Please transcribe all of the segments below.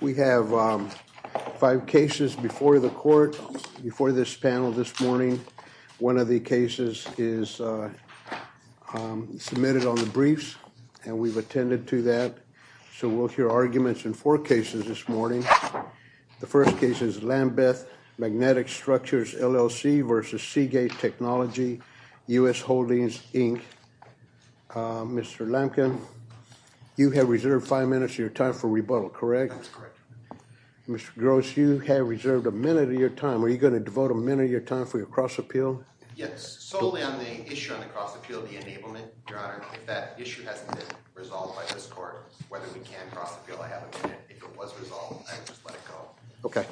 We have five cases before the court, before this panel this morning. One of the cases is submitted on the briefs, and we've attended to that. So we'll hear arguments in four cases this morning. The first case is Lambeth Magnetic Structures, LLC v. Seagate Technology, U.S. Holdings, Inc. Mr. Lamkin, you have reserved five minutes of your time for rebuttal, correct? That's correct. Mr. Gross, you have reserved a minute of your time. Are you going to devote a minute of your time for your cross-appeal? Yes, solely on the issue on the cross-appeal, the enablement, Your Honor. If that issue hasn't been resolved by this court, whether we can cross-appeal, I have a minute. If it was resolved, I would just let it go. Okay.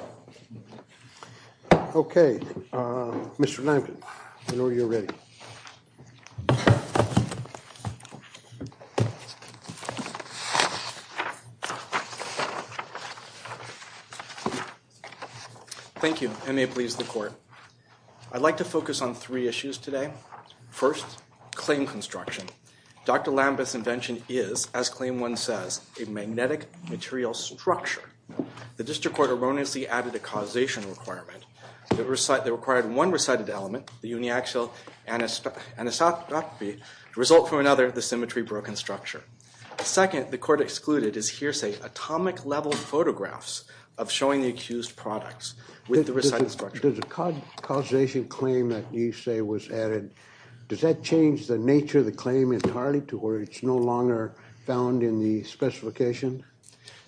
Okay, Mr. Lamkin, I know you're ready. Thank you. Thank you, and may it please the court. I'd like to focus on three issues today. First, claim construction. Dr. Lambeth's invention is, as Claim 1 says, a magnetic material structure. The district court erroneously added a causation requirement. It required one recited element, the uniaxial anisotropy, to result from another, the symmetry-broken structure. Second, the court excluded his hearsay atomic-level photographs of showing the accused products with the recited structure. Does the causation claim that you say was added, does that change the nature of the claim entirely to where it's no longer found in the specification?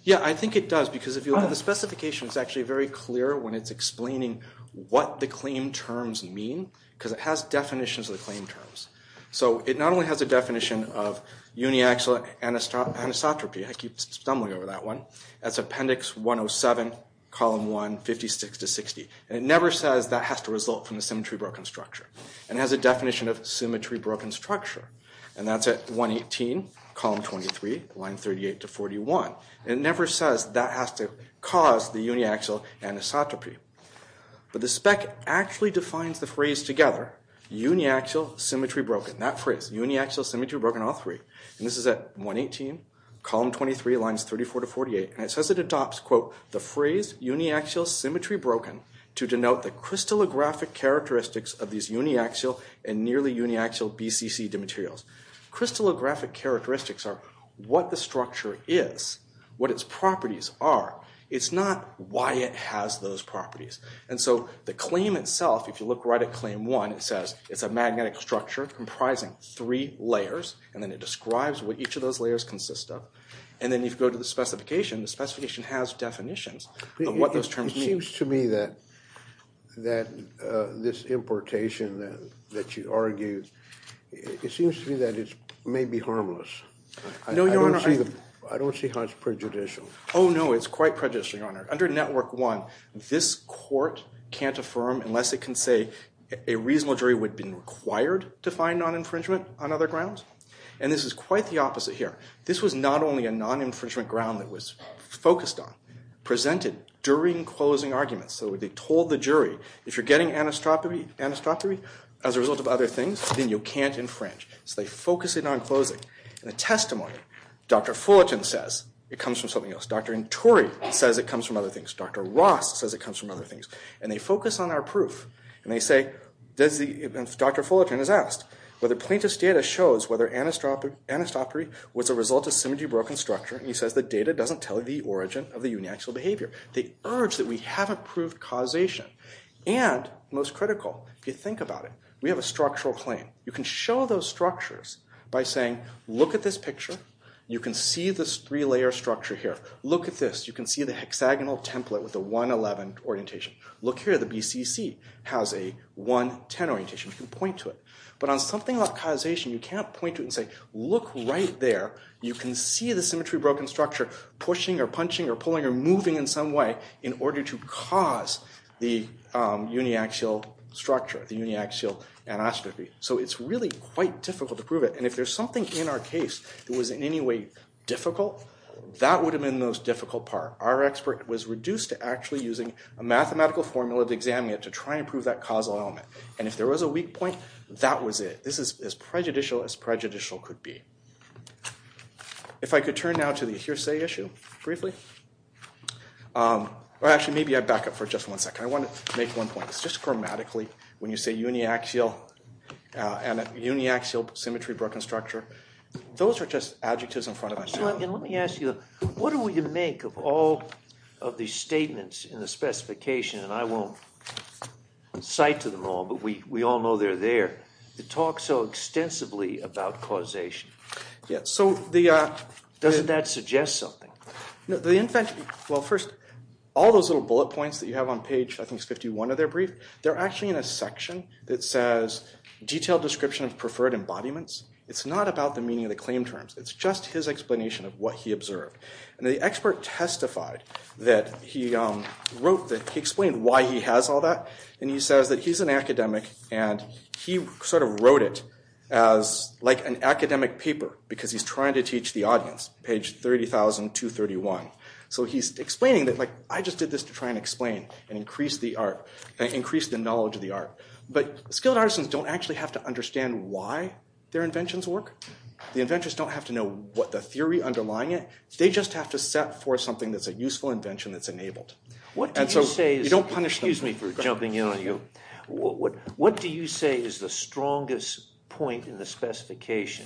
Yeah, I think it does, because if you look at the specification, it's actually very clear when it's explaining what the claim terms mean, because it has definitions of the claim terms. So it not only has a definition of uniaxial anisotropy, I keep stumbling over that one, that's Appendix 107, Column 1, 56 to 60. And it never says that has to result from the symmetry-broken structure. And it has a definition of symmetry-broken structure. And that's at 118, Column 23, Line 38 to 41. And it never says that has to cause the uniaxial anisotropy. But the spec actually defines the phrase together, uniaxial symmetry-broken. That phrase, uniaxial symmetry-broken, all three. And this is at 118, Column 23, Lines 34 to 48. And it says it adopts, quote, the phrase uniaxial symmetry-broken to denote the crystallographic characteristics of these uniaxial and nearly uniaxial BCC dematerials. Crystallographic characteristics are what the structure is, what its properties are. It's not why it has those properties. And so the claim itself, if you look right at Claim 1, it says it's a magnetic structure comprising three layers. And then it describes what each of those layers consist of. And then you go to the specification. The specification has definitions of what those terms mean. It seems to me that this importation that you argue, it seems to me that it may be harmless. No, Your Honor. I don't see how it's prejudicial. Oh, no. It's quite prejudicial, Your Honor. Under Network 1, this court can't affirm unless it can say a reasonable jury would have been required to find non-infringement on other grounds. And this is quite the opposite here. This was not only a non-infringement ground that was focused on, presented during closing arguments. So they told the jury, if you're getting anastropomy as a result of other things, then you can't infringe. So they focus it on closing. In the testimony, Dr. Fullerton says it comes from something else. Dr. Nturi says it comes from other things. Dr. Ross says it comes from other things. And they focus on our proof. And Dr. Fullerton is asked whether plaintiff's data shows whether anastropomy was a result of symmetry-broken structure. And he says the data doesn't tell you the origin of the uniaxial behavior. They urge that we have approved causation. And, most critical, if you think about it, we have a structural claim. You can show those structures by saying, look at this picture. You can see this three-layer structure here. Look at this. You can see the hexagonal template with the 111 orientation. Look here. The BCC has a 110 orientation. You can point to it. But on something about causation, you can't point to it and say, look right there. You can see the symmetry-broken structure pushing or punching or pulling or moving in some way in order to cause the uniaxial structure, the uniaxial anastropy. So it's really quite difficult to prove it. And if there's something in our case that was in any way difficult, that would have been the most difficult part. Our expert was reduced to actually using a mathematical formula to examine it to try and prove that causal element. And if there was a weak point, that was it. This is as prejudicial as prejudicial could be. If I could turn now to the hearsay issue briefly. Actually, maybe I back up for just one second. I want to make one point. It's just grammatically, when you say uniaxial and uniaxial symmetry-broken structure, those are just adjectives in front of us. Mr. Lincoln, let me ask you, what are we to make of all of these statements in the specification? And I won't cite to them all, but we all know they're there. To talk so extensively about causation, doesn't that suggest something? Well, first, all those little bullet points that you have on page, I think it's 51 of their brief, they're actually in a section that says, detailed description of preferred embodiments. It's not about the meaning of the claim terms. It's just his explanation of what he observed. And the expert testified that he wrote, he explained why he has all that. And he says that he's an academic, and he sort of wrote it as like an academic paper, because he's trying to teach the audience, page 30,231. So he's explaining that, like, I just did this to try and explain and increase the knowledge of the art. But skilled artisans don't actually have to understand why their inventions work. The inventors don't have to know what the theory underlying it. They just have to set forth something that's a useful invention that's enabled. What do you say is the strongest point in the specification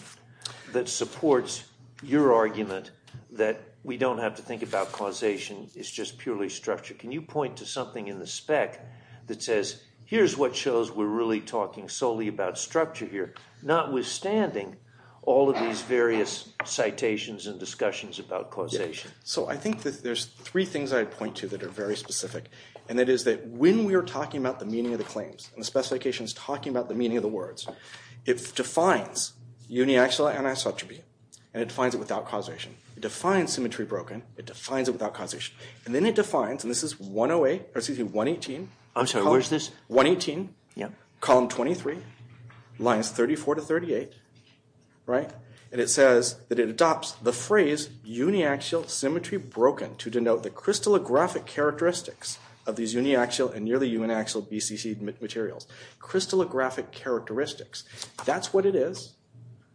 that supports your argument that we don't have to think about causation, it's just purely structure? Can you point to something in the spec that says, here's what shows we're really talking solely about structure here, notwithstanding all of these various citations and discussions about causation? So I think that there's three things I'd point to that are very specific. And that is that when we are talking about the meaning of the claims, and the specification is talking about the meaning of the words, it defines uniaxial anisotropy, and it defines it without causation. It defines symmetry broken, it defines it without causation. And then it defines, and this is 108, or excuse me, 118. I'm sorry, where's this? 118, column 23, lines 34 to 38. And it says that it adopts the phrase uniaxial symmetry broken to denote the crystallographic characteristics of these uniaxial and nearly uniaxial BCC materials. Crystallographic characteristics. That's what it is,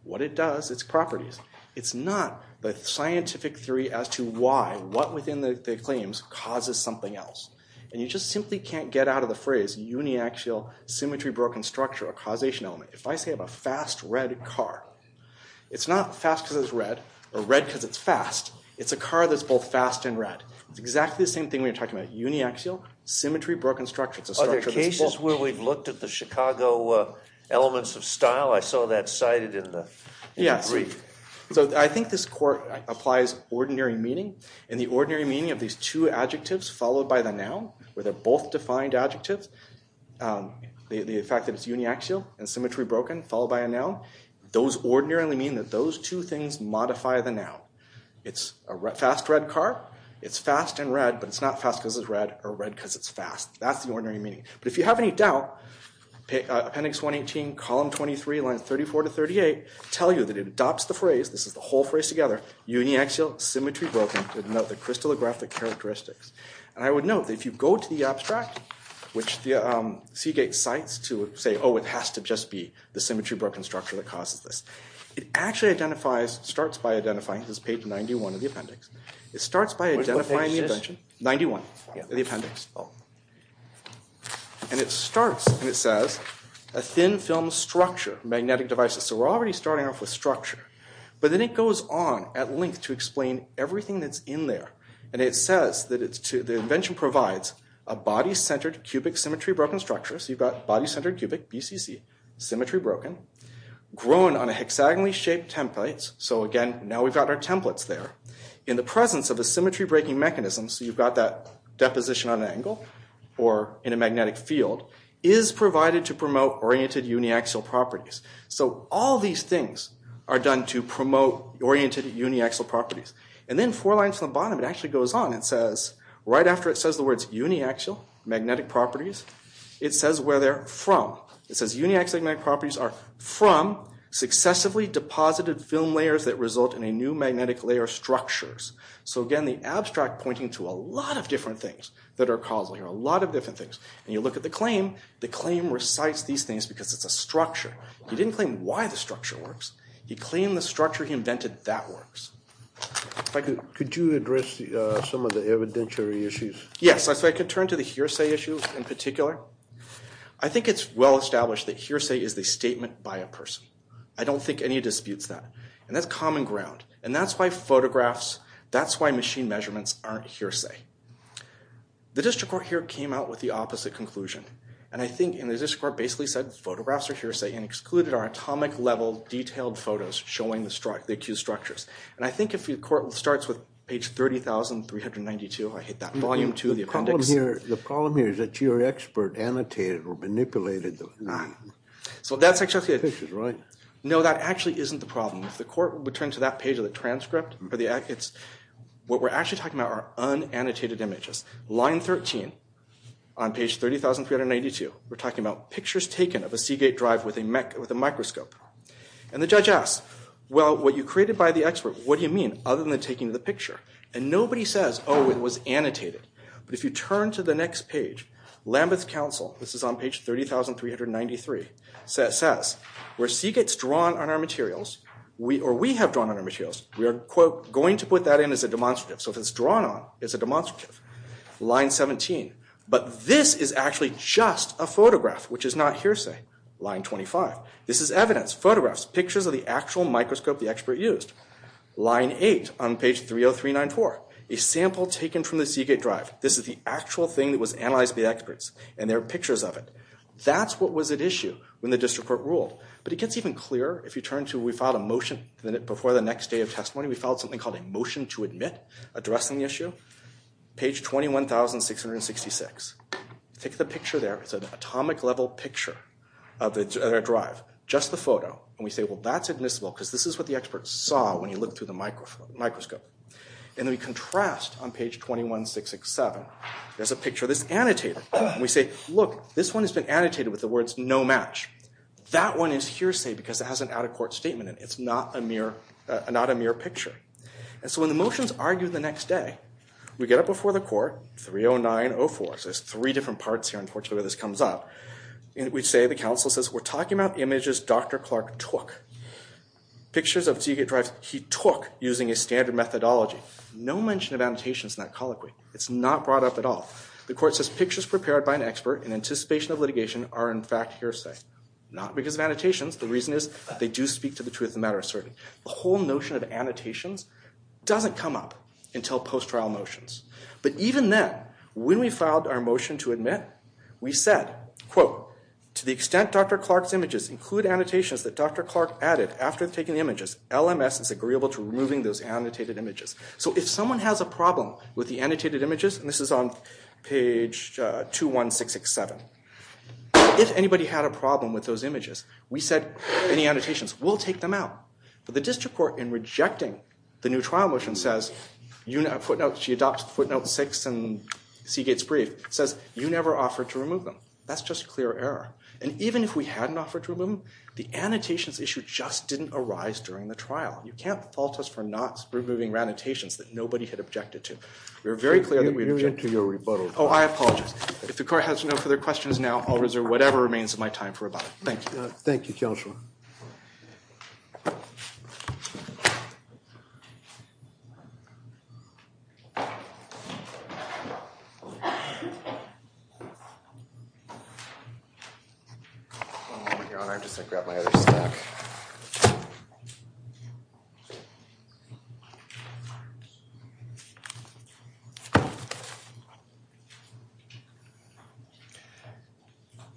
what it does, its properties. It's not the scientific theory as to why, what within the claims causes something else. And you just simply can't get out of the phrase uniaxial symmetry broken structure, a causation element. If I say I have a fast red car, it's not fast because it's red, or red because it's fast. It's a car that's both fast and red. It's exactly the same thing we were talking about, uniaxial symmetry broken structure. Are there cases where we've looked at the Chicago elements of style? I saw that cited in the brief. So I think this court applies ordinary meaning. And the ordinary meaning of these two adjectives followed by the noun, where they're both defined adjectives, the fact that it's uniaxial and symmetry broken followed by a noun, those ordinarily mean that those two things modify the noun. It's a fast red car, it's fast and red, but it's not fast because it's red, or red because it's fast. That's the ordinary meaning. But if you have any doubt, appendix 118, column 23, lines 34 to 38, tell you that it adopts the phrase, this is the whole phrase together, uniaxial symmetry broken to denote the crystallographic characteristics. And I would note that if you go to the abstract, which Seagate cites to say, oh, it has to just be the symmetry broken structure that causes this. It actually identifies, starts by identifying, this is page 91 of the appendix. It starts by identifying the attention. Which page is this? 91, the appendix. And it starts, and it says, a thin film structure, magnetic devices. So we're already starting off with structure. But then it goes on at length to explain everything that's in there. And it says that the invention provides a body-centered cubic symmetry broken structure. So you've got body-centered cubic, BCC, symmetry broken, grown on a hexagonally shaped template. So again, now we've got our templates there. In the presence of a symmetry breaking mechanism, so you've got that deposition on an angle, or in a magnetic field, is provided to promote oriented uniaxial properties. So all these things are done to promote oriented uniaxial properties. And then four lines from the bottom, it actually goes on and says, right after it says the words uniaxial, magnetic properties, it says where they're from. It says uniaxial magnetic properties are from successively deposited film layers that result in a new magnetic layer structures. So again, the abstract pointing to a lot of different things that are causal here, a lot of different things. And you look at the claim, the claim recites these things because it's a structure. He didn't claim why the structure works. He claimed the structure he invented, that works. Could you address some of the evidentiary issues? Yes, so I could turn to the hearsay issue in particular. I think it's well established that hearsay is the statement by a person. I don't think any disputes that. And that's common ground. And that's why photographs, that's why machine measurements aren't hearsay. The district court here came out with the opposite conclusion. And I think the district court basically said photographs are hearsay and excluded our atomic level detailed photos showing the accused structures. And I think if the court starts with page 30,392, I hate that, volume two, the appendix. The problem here is that your expert annotated or manipulated the. So that's actually. This is right. No, that actually isn't the problem. If the court would turn to that page of the transcript, what we're actually talking about are unannotated images. Line 13 on page 30,392. We're talking about pictures taken of a Seagate drive with a microscope. And the judge asks, well, what you created by the expert, what do you mean other than taking the picture? And nobody says, oh, it was annotated. But if you turn to the next page, Lambeth Council, this is on page 30,393, says where Seagate's drawn on our materials or we have drawn on our materials, we are, quote, going to put that in as a demonstrative. So if it's drawn on, it's a demonstrative. Line 17. But this is actually just a photograph, which is not hearsay. Line 25. This is evidence, photographs, pictures of the actual microscope the expert used. Line 8 on page 30,394. A sample taken from the Seagate drive. This is the actual thing that was analyzed by the experts. And there are pictures of it. That's what was at issue when the district court ruled. But it gets even clearer if you turn to we filed a motion before the next day of testimony. We filed something called a motion to admit addressing the issue. Page 21,666. Take the picture there. It's an atomic-level picture of the drive, just the photo. And we say, well, that's admissible because this is what the expert saw when he looked through the microscope. And then we contrast on page 21,667. There's a picture that's annotated. And we say, look, this one has been annotated with the words no match. That one is hearsay because it has an out-of-court statement in it. It's not a mere picture. And so when the motions argue the next day, we get up before the court, 30904. There's three different parts here, unfortunately, where this comes up. We say, the counsel says, we're talking about images Dr. Clark took. Pictures of Seagate drive he took using a standard methodology. No mention of annotations in that colloquy. It's not brought up at all. The court says pictures prepared by an expert in anticipation of litigation are, in fact, hearsay. Not because of annotations. The reason is they do speak to the truth of the matter, certainly. The whole notion of annotations doesn't come up until post-trial motions. But even then, when we filed our motion to admit, we said, quote, to the extent Dr. Clark's images include annotations that Dr. Clark added after taking the images, LMS is agreeable to removing those annotated images. So if someone has a problem with the annotated images, and this is on page 21,667, if anybody had a problem with those images, we said, any annotations, we'll take them out. But the district court, in rejecting the new trial motion, says, she adopts footnote six in Seagate's brief, says, you never offered to remove them. That's just clear error. And even if we hadn't offered to remove them, the annotations issue just didn't arise during the trial. You can't fault us for not removing annotations that nobody had objected to. We were very clear that we objected. You're into your rebuttal. Oh, I apologize. If the court has no further questions now, I'll reserve whatever remains of my time for rebuttal. Thank you. Thank you, Counselor. One moment, Your Honor. I'm just going to grab my other stack.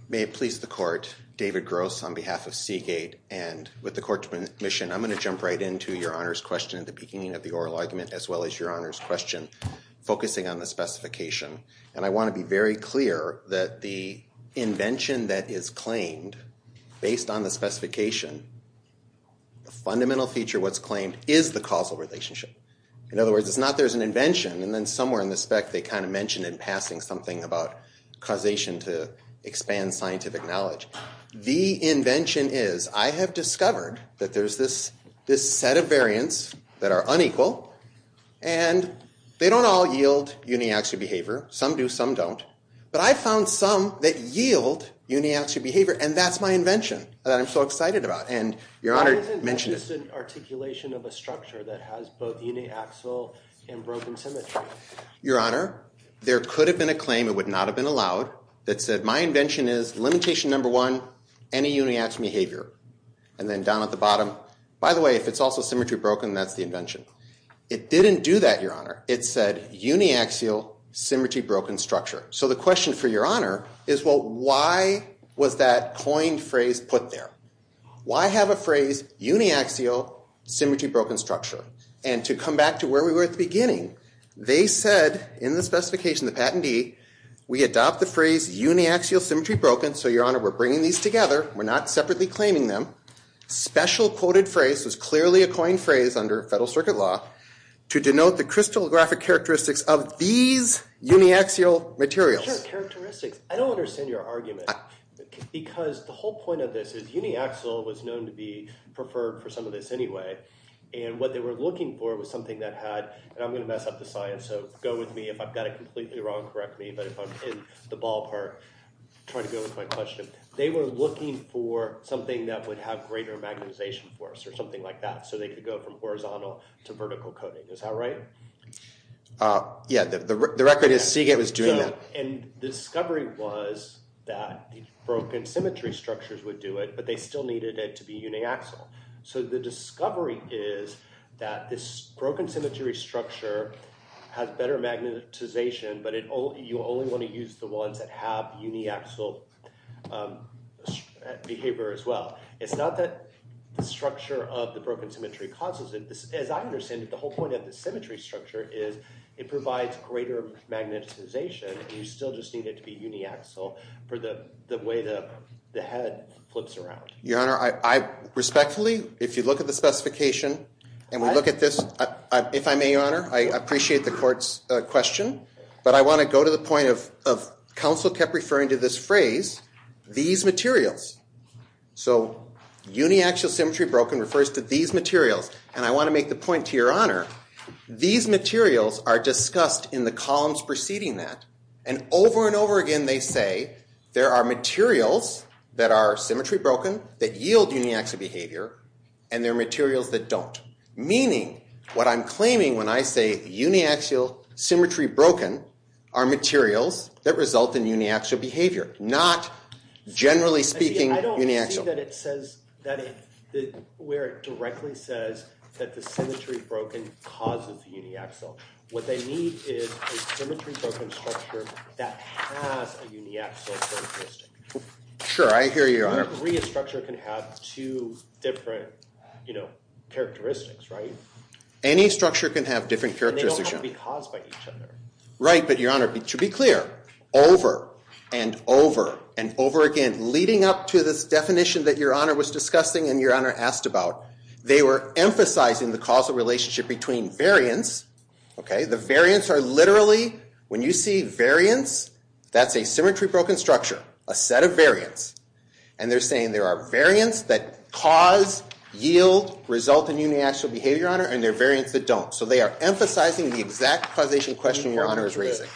May it please the court, David Gross on behalf of Seagate, and with the court's permission, I'm going to jump right into Your Honor's question at the beginning of the oral argument, as well as Your Honor's question, focusing on the specification. And I want to be very clear that the invention that is claimed, based on the specification, the fundamental feature what's claimed is the causal relationship. In other words, it's not there's an invention, and then somewhere in the spec, they kind of mention in passing something about causation to expand scientific knowledge. The invention is I have discovered that there's this set of variants that are unequal, and they don't all yield uniaxial behavior. Some do, some don't. But I found some that yield uniaxial behavior, and that's my invention that I'm so excited about. And Your Honor mentioned it. Why isn't that just an articulation of a structure that has both uniaxial and broken symmetry? Your Honor, there could have been a claim, it would not have been allowed, that said my invention is limitation number one, any uniaxial behavior. And then down at the bottom, by the way, if it's also symmetry broken, that's the invention. It didn't do that, Your Honor. It said uniaxial, symmetry-broken structure. So the question for Your Honor is, well, why was that coined phrase put there? Why have a phrase uniaxial, symmetry-broken structure? And to come back to where we were at the beginning, they said in the specification, the patentee, we adopt the phrase uniaxial, symmetry-broken. So, Your Honor, we're bringing these together. We're not separately claiming them. Special quoted phrase was clearly a coined phrase under federal circuit law to denote the crystallographic characteristics of these uniaxial materials. Sure, characteristics. I don't understand your argument. Because the whole point of this is uniaxial was known to be preferred for some of this anyway. And what they were looking for was something that had, and I'm going to mess up the science, so go with me if I've got it completely wrong. Correct me, but if I'm in the ballpark, try to go with my question. They were looking for something that would have greater magnetization force or something like that so they could go from horizontal to vertical coating. Is that right? Yeah, the record is Seagate was doing that. And the discovery was that broken symmetry structures would do it, but they still needed it to be uniaxial. So the discovery is that this broken symmetry structure has better magnetization, but you only want to use the ones that have uniaxial behavior as well. It's not that the structure of the broken symmetry causes it. As I understand it, the whole point of the symmetry structure is it provides greater magnetization. You still just need it to be uniaxial for the way the head flips around. Your Honor, I respectfully, if you look at the specification and we look at this, if I may, Your Honor, I appreciate the court's question, but I want to go to the point of counsel kept referring to this phrase, these materials. So uniaxial symmetry broken refers to these materials, and I want to make the point to Your Honor, these materials are discussed in the columns preceding that, and over and over again they say there are materials that are symmetry broken that yield uniaxial behavior, and there are materials that don't, meaning what I'm claiming when I say uniaxial symmetry broken are materials that result in uniaxial behavior, not, generally speaking, uniaxial. I don't see where it directly says that the symmetry broken causes uniaxial. What they need is a symmetry broken structure that has a uniaxial characteristic. Sure, I hear you, Your Honor. Every structure can have two different characteristics, right? Any structure can have different characteristics. And they don't have to be caused by each other. Right, but Your Honor, to be clear, over and over and over again, leading up to this definition that Your Honor was discussing and Your Honor asked about, they were emphasizing the causal relationship between variants. The variants are literally, when you see variants, that's a symmetry broken structure, a set of variants. And they're saying there are variants that cause, yield, result in uniaxial behavior, Your Honor, and there are variants that don't. So they are emphasizing the exact causation question Your Honor is raising,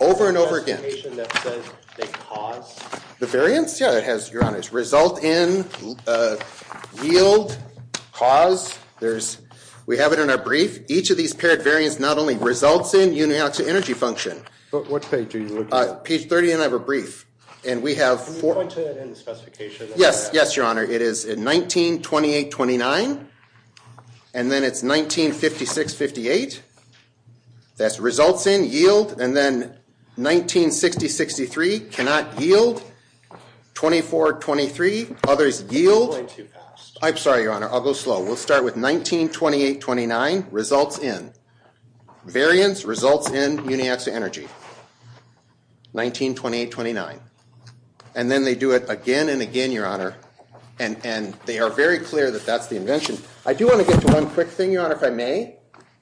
over and over again. The variants? Yeah, it has, Your Honor, it's result in, yield, cause. We have it in our brief. Each of these paired variants not only results in uniaxial energy function. What page are you looking at? Page 30 and I have a brief. Can you point to it in the specification? Yes, Your Honor. It is in 1928-29, and then it's 1956-58. That's results in, yield, and then 1960-63, cannot yield, 24-23, others yield. I'm sorry, Your Honor, I'll go slow. We'll start with 1928-29, results in. Variants, results in, uniaxial energy, 1928-29. And then they do it again and again, Your Honor, and they are very clear that that's the invention. I do want to get to one quick thing, Your Honor, if I may.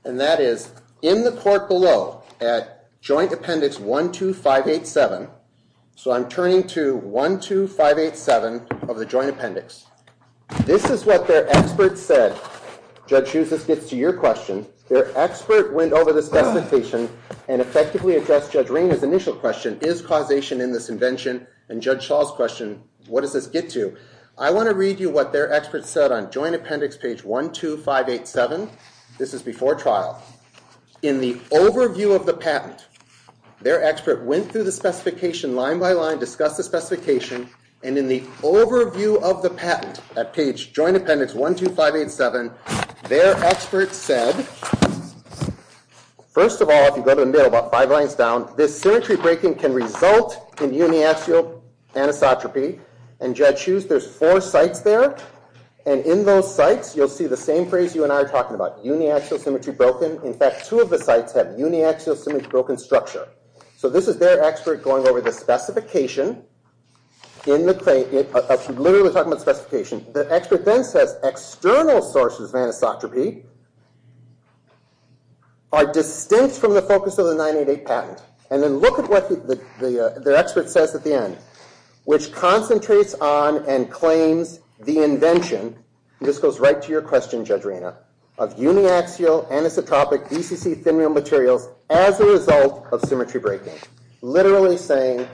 And that is, in the court below, at Joint Appendix 12587. So I'm turning to 12587 of the Joint Appendix. This is what their expert said. Judge Shuse, this gets to your question. Their expert went over this specification and effectively addressed Judge Rainer's initial question, is causation in this invention? And Judge Shaw's question, what does this get to? I want to read you what their expert said on Joint Appendix page 12587. This is before trial. In the overview of the patent, their expert went through the specification line by line, discussed the specification, and in the overview of the patent at page Joint Appendix 12587, their expert said, first of all, if you go to the middle about five lines down, this symmetry breaking can result in uniaxial anisotropy. And Judge Shuse, there's four sites there. And in those sites, you'll see the same phrase you and I are talking about, uniaxial symmetry broken. In fact, two of the sites have uniaxial symmetry broken structure. So this is their expert going over the specification. I'm literally talking about specification. The expert then says external sources of anisotropy are distinct from the focus of the 988 patent. And then look at what their expert says at the end, which concentrates on and claims the invention, and this goes right to your question, Judge Rainer, of uniaxial anisotropic DCC thymine materials as a result of symmetry breaking, literally saying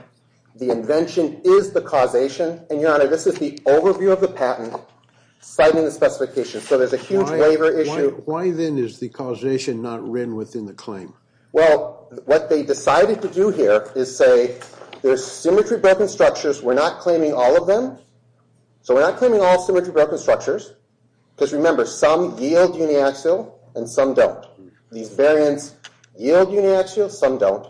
the invention is the causation. And, Your Honor, this is the overview of the patent citing the specification. So there's a huge waiver issue. Why, then, is the causation not written within the claim? Well, what they decided to do here is say there's symmetry broken structures. We're not claiming all of them. So we're not claiming all symmetry broken structures because, remember, some yield uniaxial and some don't. These variants yield uniaxial, some don't.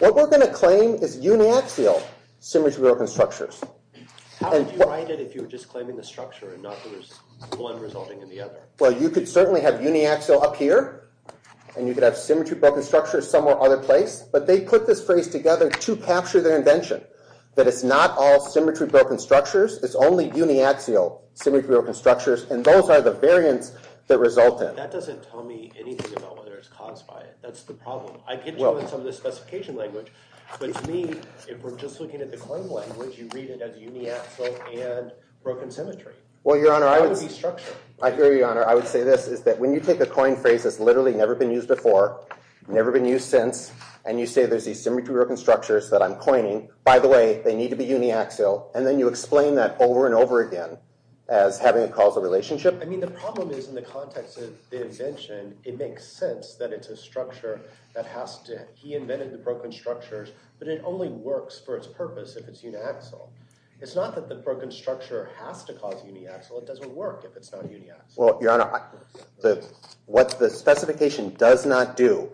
What we're going to claim is uniaxial symmetry broken structures. How would you write it if you were just claiming the structure and not that there's one resulting in the other? Well, you could certainly have uniaxial up here, and you could have symmetry broken structures somewhere other place, but they put this phrase together to capture their invention, that it's not all symmetry broken structures. It's only uniaxial symmetry broken structures, and those are the variants that result in it. That doesn't tell me anything about whether it's caused by it. That's the problem. I could tell in some of the specification language, but to me, if we're just looking at the claim language, you read it as uniaxial and broken symmetry. Well, Your Honor, I would say this is that when you take a coin phrase that's literally never been used before, never been used since, and you say there's these symmetry broken structures that I'm coining, by the way, they need to be uniaxial, and then you explain that over and over again as having a causal relationship. I mean, the problem is in the context of the invention, it makes sense that it's a structure that has to – he invented the broken structures, but it only works for its purpose if it's uniaxial. It's not that the broken structure has to cause uniaxial. It doesn't work if it's not uniaxial. Well, Your Honor, what the specification does not do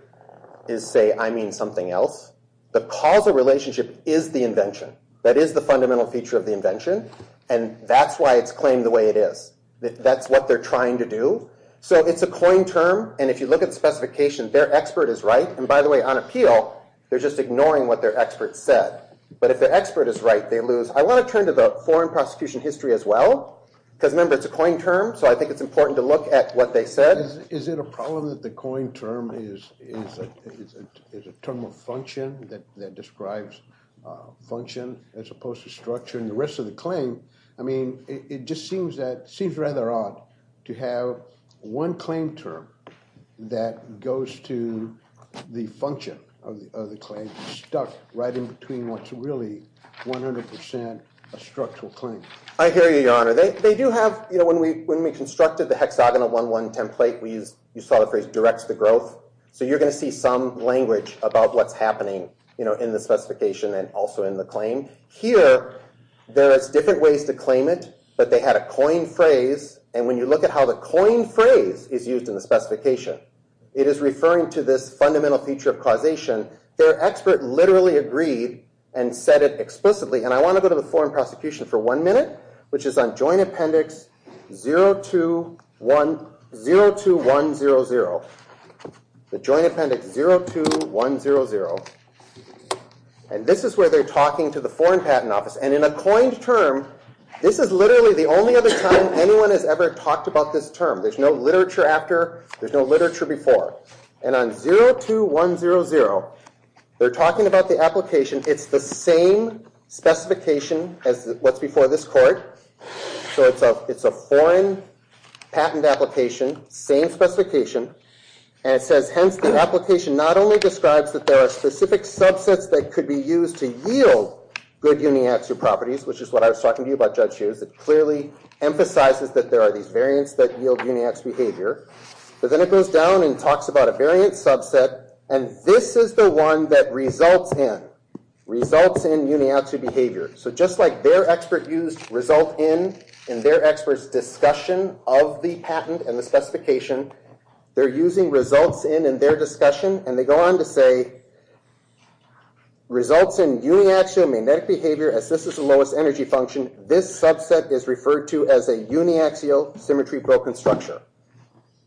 is say I mean something else. The causal relationship is the invention. That is the fundamental feature of the invention, and that's why it's claimed the way it is. That's what they're trying to do. So it's a coin term, and if you look at the specification, their expert is right. And by the way, on appeal, they're just ignoring what their expert said. But if their expert is right, they lose. I want to turn to the foreign prosecution history as well because, remember, it's a coin term, so I think it's important to look at what they said. Is it a problem that the coin term is a term of function that describes function as opposed to structure? And the rest of the claim, I mean, it just seems rather odd to have one claim term that goes to the function of the claim stuck right in between what's really 100% a structural claim. I hear you, Your Honor. They do have, you know, when we constructed the hexagonal 1-1 template, we saw the phrase directs the growth. So you're going to see some language about what's happening, you know, in the specification and also in the claim. Here, there is different ways to claim it, but they had a coin phrase, and when you look at how the coin phrase is used in the specification, it is referring to this fundamental feature of causation. Their expert literally agreed and said it explicitly, and I want to go to the foreign prosecution for one minute, which is on Joint Appendix 02100, the Joint Appendix 02100. And this is where they're talking to the Foreign Patent Office, and in a coined term, this is literally the only other time anyone has ever talked about this term. There's no literature after, there's no literature before. And on 02100, they're talking about the application. It's the same specification as what's before this court. So it's a foreign patent application, same specification, and it says, hence, the application not only describes that there are specific subsets that could be used to yield good uniaxial properties, which is what I was talking to you about, Judge Shears. It clearly emphasizes that there are these variants that yield uniaxial behavior. But then it goes down and talks about a variant subset, and this is the one that results in, results in uniaxial behavior. So just like their expert used result in in their expert's discussion of the patent and the specification, they're using results in in their discussion, and they go on to say results in uniaxial magnetic behavior, as this is the lowest energy function, this subset is referred to as a uniaxial symmetry-broken structure.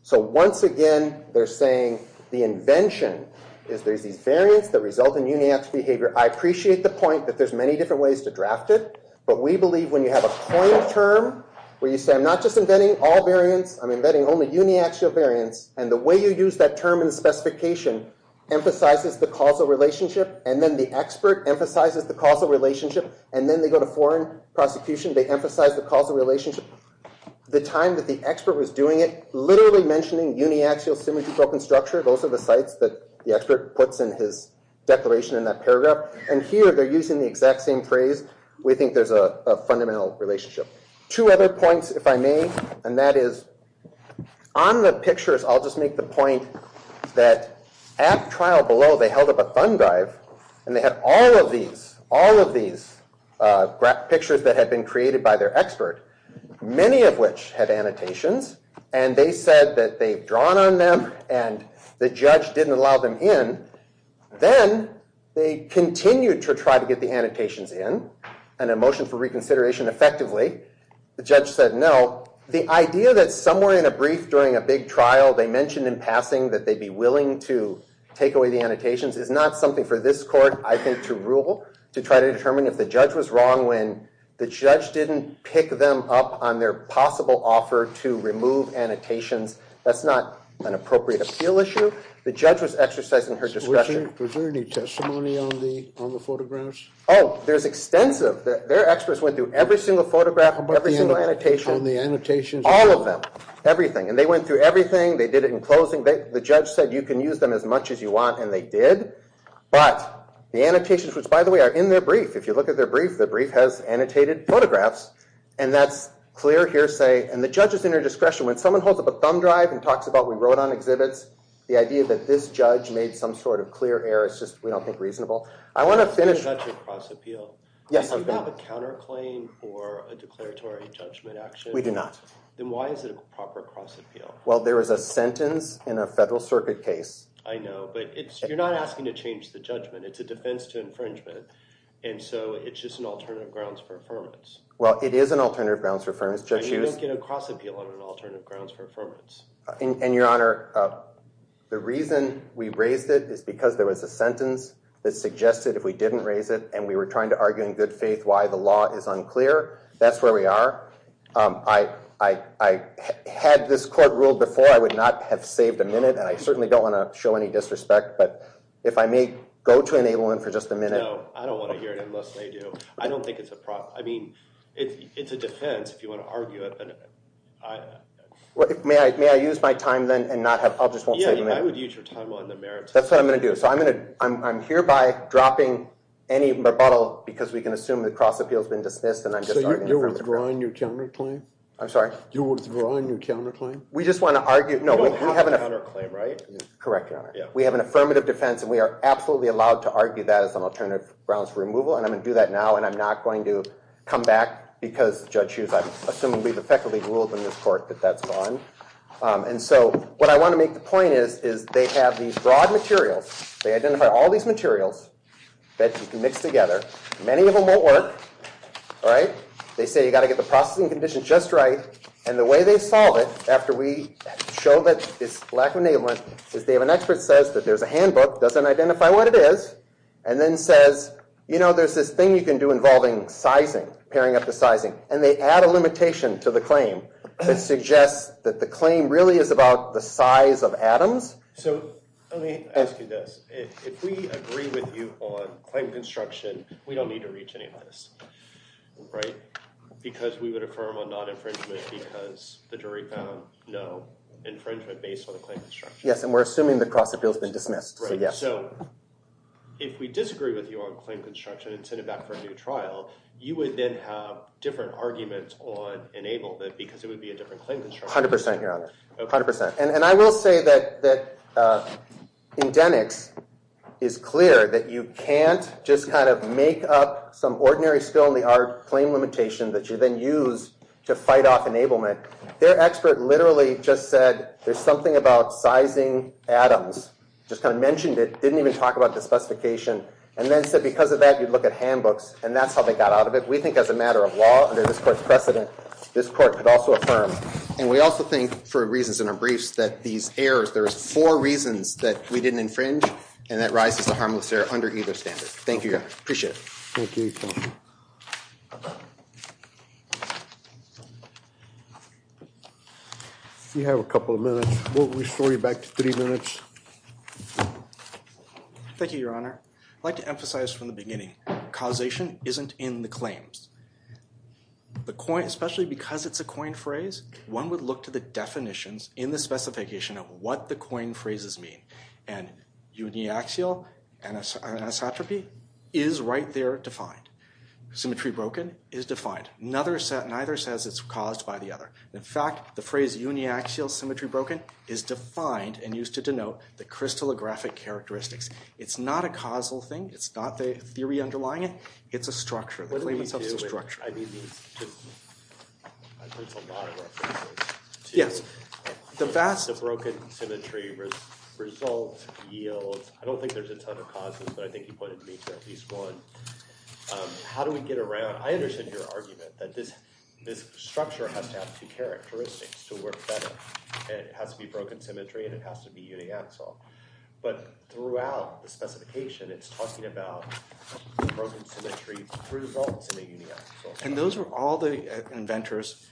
So once again, they're saying the invention is there's these variants that result in uniaxial behavior. I appreciate the point that there's many different ways to draft it, but we believe when you have a coined term where you say I'm not just inventing all variants, I'm inventing only uniaxial variants, and the way you use that term in the specification emphasizes the causal relationship, and then the expert emphasizes the causal relationship, and then they go to foreign prosecution. They emphasize the causal relationship. The time that the expert was doing it, literally mentioning uniaxial symmetry-broken structure, those are the sites that the expert puts in his declaration in that paragraph, and here they're using the exact same phrase. We think there's a fundamental relationship. Two other points, if I may, and that is on the pictures, I'll just make the point that at trial below, they held up a thumb drive, and they had all of these pictures that had been created by their expert, many of which had annotations, and they said that they'd drawn on them, and the judge didn't allow them in. Then they continued to try to get the annotations in, and a motion for reconsideration effectively. The judge said no. The idea that somewhere in a brief during a big trial they mentioned in passing that they'd be willing to take away the annotations is not something for this court, I think, to rule, to try to determine if the judge was wrong when the judge didn't pick them up on their possible offer to remove annotations. That's not an appropriate appeal issue. The judge was exercising her discretion. Was there any testimony on the photographs? Oh, there's extensive. Their experts went through every single photograph, every single annotation, all of them, everything, and they went through everything. They did it in closing. The judge said you can use them as much as you want, and they did, but the annotations, which, by the way, are in their brief. If you look at their brief, the brief has annotated photographs, and that's clear hearsay, and the judge is in her discretion. When someone holds up a thumb drive and talks about we wrote on exhibits, the idea that this judge made some sort of clear error is just, we don't think, reasonable. I want to finish. Is that your cross-appeal? Yes, I'm going to. Do you have a counterclaim or a declaratory judgment action? We do not. Then why is it a proper cross-appeal? Well, there is a sentence in a Federal Circuit case. I know, but you're not asking to change the judgment. It's a defense to infringement, and so it's just an alternative grounds for affirmance. Well, it is an alternative grounds for affirmance. You don't get a cross-appeal on an alternative grounds for affirmance. And, Your Honor, the reason we raised it is because there was a sentence that suggested if we didn't raise it and we were trying to argue in good faith why the law is unclear, that's where we are. I had this court ruled before. I would not have saved a minute, and I certainly don't want to show any disrespect, but if I may go to enablement for just a minute. No, I don't want to hear it unless they do. I don't think it's a problem. I mean, it's a defense if you want to argue it. May I use my time then and not have, I'll just won't save a minute. Yeah, I would use your time on the merits. That's what I'm going to do. So I'm hereby dropping any rebuttal because we can assume the cross-appeal has been dismissed and I'm just arguing for the court. So you're withdrawing your counterclaim? I'm sorry? You're withdrawing your counterclaim? We just want to argue. You don't have a counterclaim, right? Correct, Your Honor. We have an affirmative defense and we are absolutely allowed to argue that as an alternative grounds for removal and I'm going to do that now and I'm not going to come back because, Judge Hughes, I'm assuming we've effectively ruled in this court that that's gone. And so what I want to make the point is they have these broad materials. They identify all these materials that you can mix together. Many of them won't work. They say you've got to get the processing condition just right and the way they solve it, after we show that it's lack of enablement, is they have an expert who says that there's a handbook, doesn't identify what it is, and then says, you know, there's this thing you can do involving sizing, pairing up the sizing, and they add a limitation to the claim that suggests that the claim really is about the size of atoms. So let me ask you this. If we agree with you on claim construction, we don't need to reach any limits, right? Because we would affirm a non-infringement because the jury found no infringement based on the claim construction. Yes, and we're assuming the cross-appeal has been dismissed. Right, so if we disagree with you on claim construction and send it back for a new trial, you would then have different arguments on enablement because it would be a different claim construction. 100 percent, Your Honor. 100 percent. And I will say that in Denix it's clear that you can't just kind of make up some ordinary skill-in-the-art claim limitation that you then use to fight off enablement. Their expert literally just said there's something about sizing atoms, just kind of mentioned it, didn't even talk about the specification, and then said because of that you'd look at handbooks, and that's how they got out of it. We think as a matter of law, under this Court's precedent, this Court could also affirm. And we also think for reasons in our briefs that these errors, there's four reasons that we didn't infringe, and that rises to harmless error under either standard. Thank you, Your Honor. Appreciate it. Thank you, Your Honor. You have a couple of minutes. We'll restore you back to three minutes. Thank you, Your Honor. I'd like to emphasize from the beginning, causation isn't in the claims. The coin, especially because it's a coin phrase, one would look to the definitions in the specification of what the coin phrases mean. And uniaxial anisotropy is right there defined. Symmetry broken is defined. Neither says it's caused by the other. In fact, the phrase uniaxial symmetry broken is defined and used to denote the crystallographic characteristics. It's not a causal thing. It's not the theory underlying it. It's a structure. The claim itself is a structure. I think it's a lot of references. The broken symmetry results yield. I don't think there's a ton of causes, but I think you pointed to at least one. How do we get around? I understand your argument that this structure has to have two characteristics to work better. It has to be broken symmetry, and it has to be uniaxial. But throughout the specification, it's talking about broken symmetry results in a uniaxial structure. And those are all the inventor's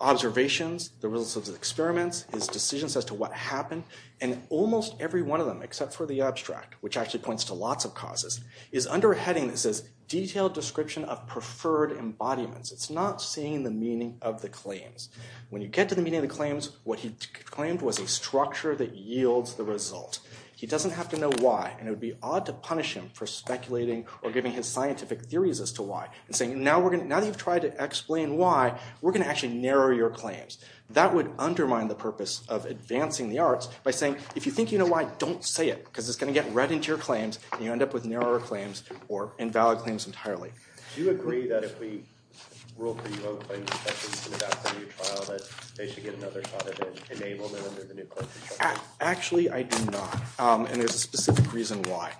observations, the results of his experiments, his decisions as to what happened. And almost every one of them, except for the abstract, which actually points to lots of causes, is under a heading that says detailed description of preferred embodiments. It's not seeing the meaning of the claims. When you get to the meaning of the claims, what he claimed was a structure that yields the result. He doesn't have to know why, and it would be odd to punish him for speculating or giving his scientific theories as to why, and saying, now that you've tried to explain why, we're going to actually narrow your claims. That would undermine the purpose of advancing the arts by saying, if you think you know why, don't say it, because it's going to get read into your claims, and you end up with narrower claims or invalid claims entirely. Do you agree that if we rule for you outclaims, that this is going to backfire your trial, that they should get another shot at enablement under the new court procedure? Actually, I do not, and there's a specific reason why.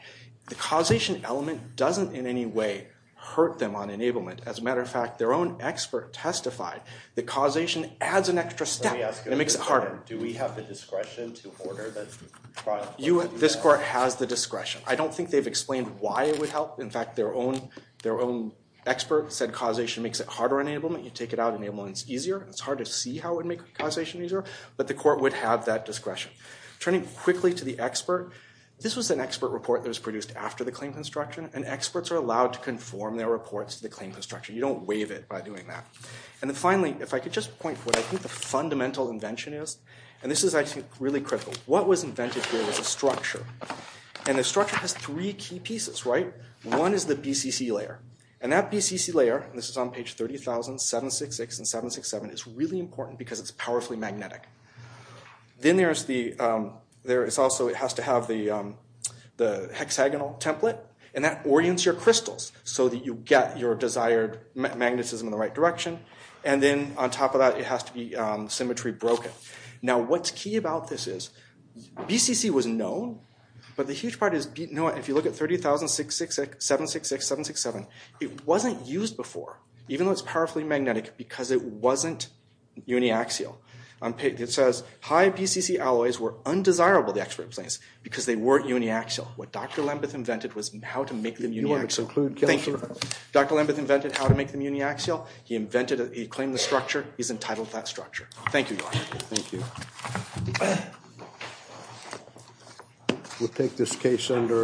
The causation element doesn't in any way hurt them on enablement. As a matter of fact, their own expert testified that causation adds an extra step, and it makes it harder. Do we have the discretion to order this trial? This court has the discretion. I don't think they've explained why it would help. In fact, their own expert said causation makes it harder on enablement. You take it out on enablement, it's easier. It's hard to see how it would make causation easier, but the court would have that discretion. Turning quickly to the expert, this was an expert report that was produced after the claim construction, and experts are allowed to conform their reports to the claim construction. You don't waive it by doing that. And then finally, if I could just point to what I think the fundamental invention is, and this is, I think, really critical. What was invented here was a structure, and the structure has three key pieces, right? One is the BCC layer, and that BCC layer, and this is on page 30,000, 766, and 767, is really important because it's powerfully magnetic. Then there is also, it has to have the hexagonal template, and that orients your crystals so that you get your desired magnetism in the right direction, and then on top of that, it has to be symmetry broken. Now, what's key about this is, BCC was known, but the huge part is, if you look at 30,000, 766, 767, it wasn't used before, even though it's powerfully magnetic, because it wasn't uniaxial. It says, high BCC alloys were undesirable to expert plans because they weren't uniaxial. What Dr. Lambeth invented was how to make them uniaxial. Dr. Lambeth invented how to make them uniaxial. He claimed the structure. He's entitled to that structure. Thank you, Josh. Thank you.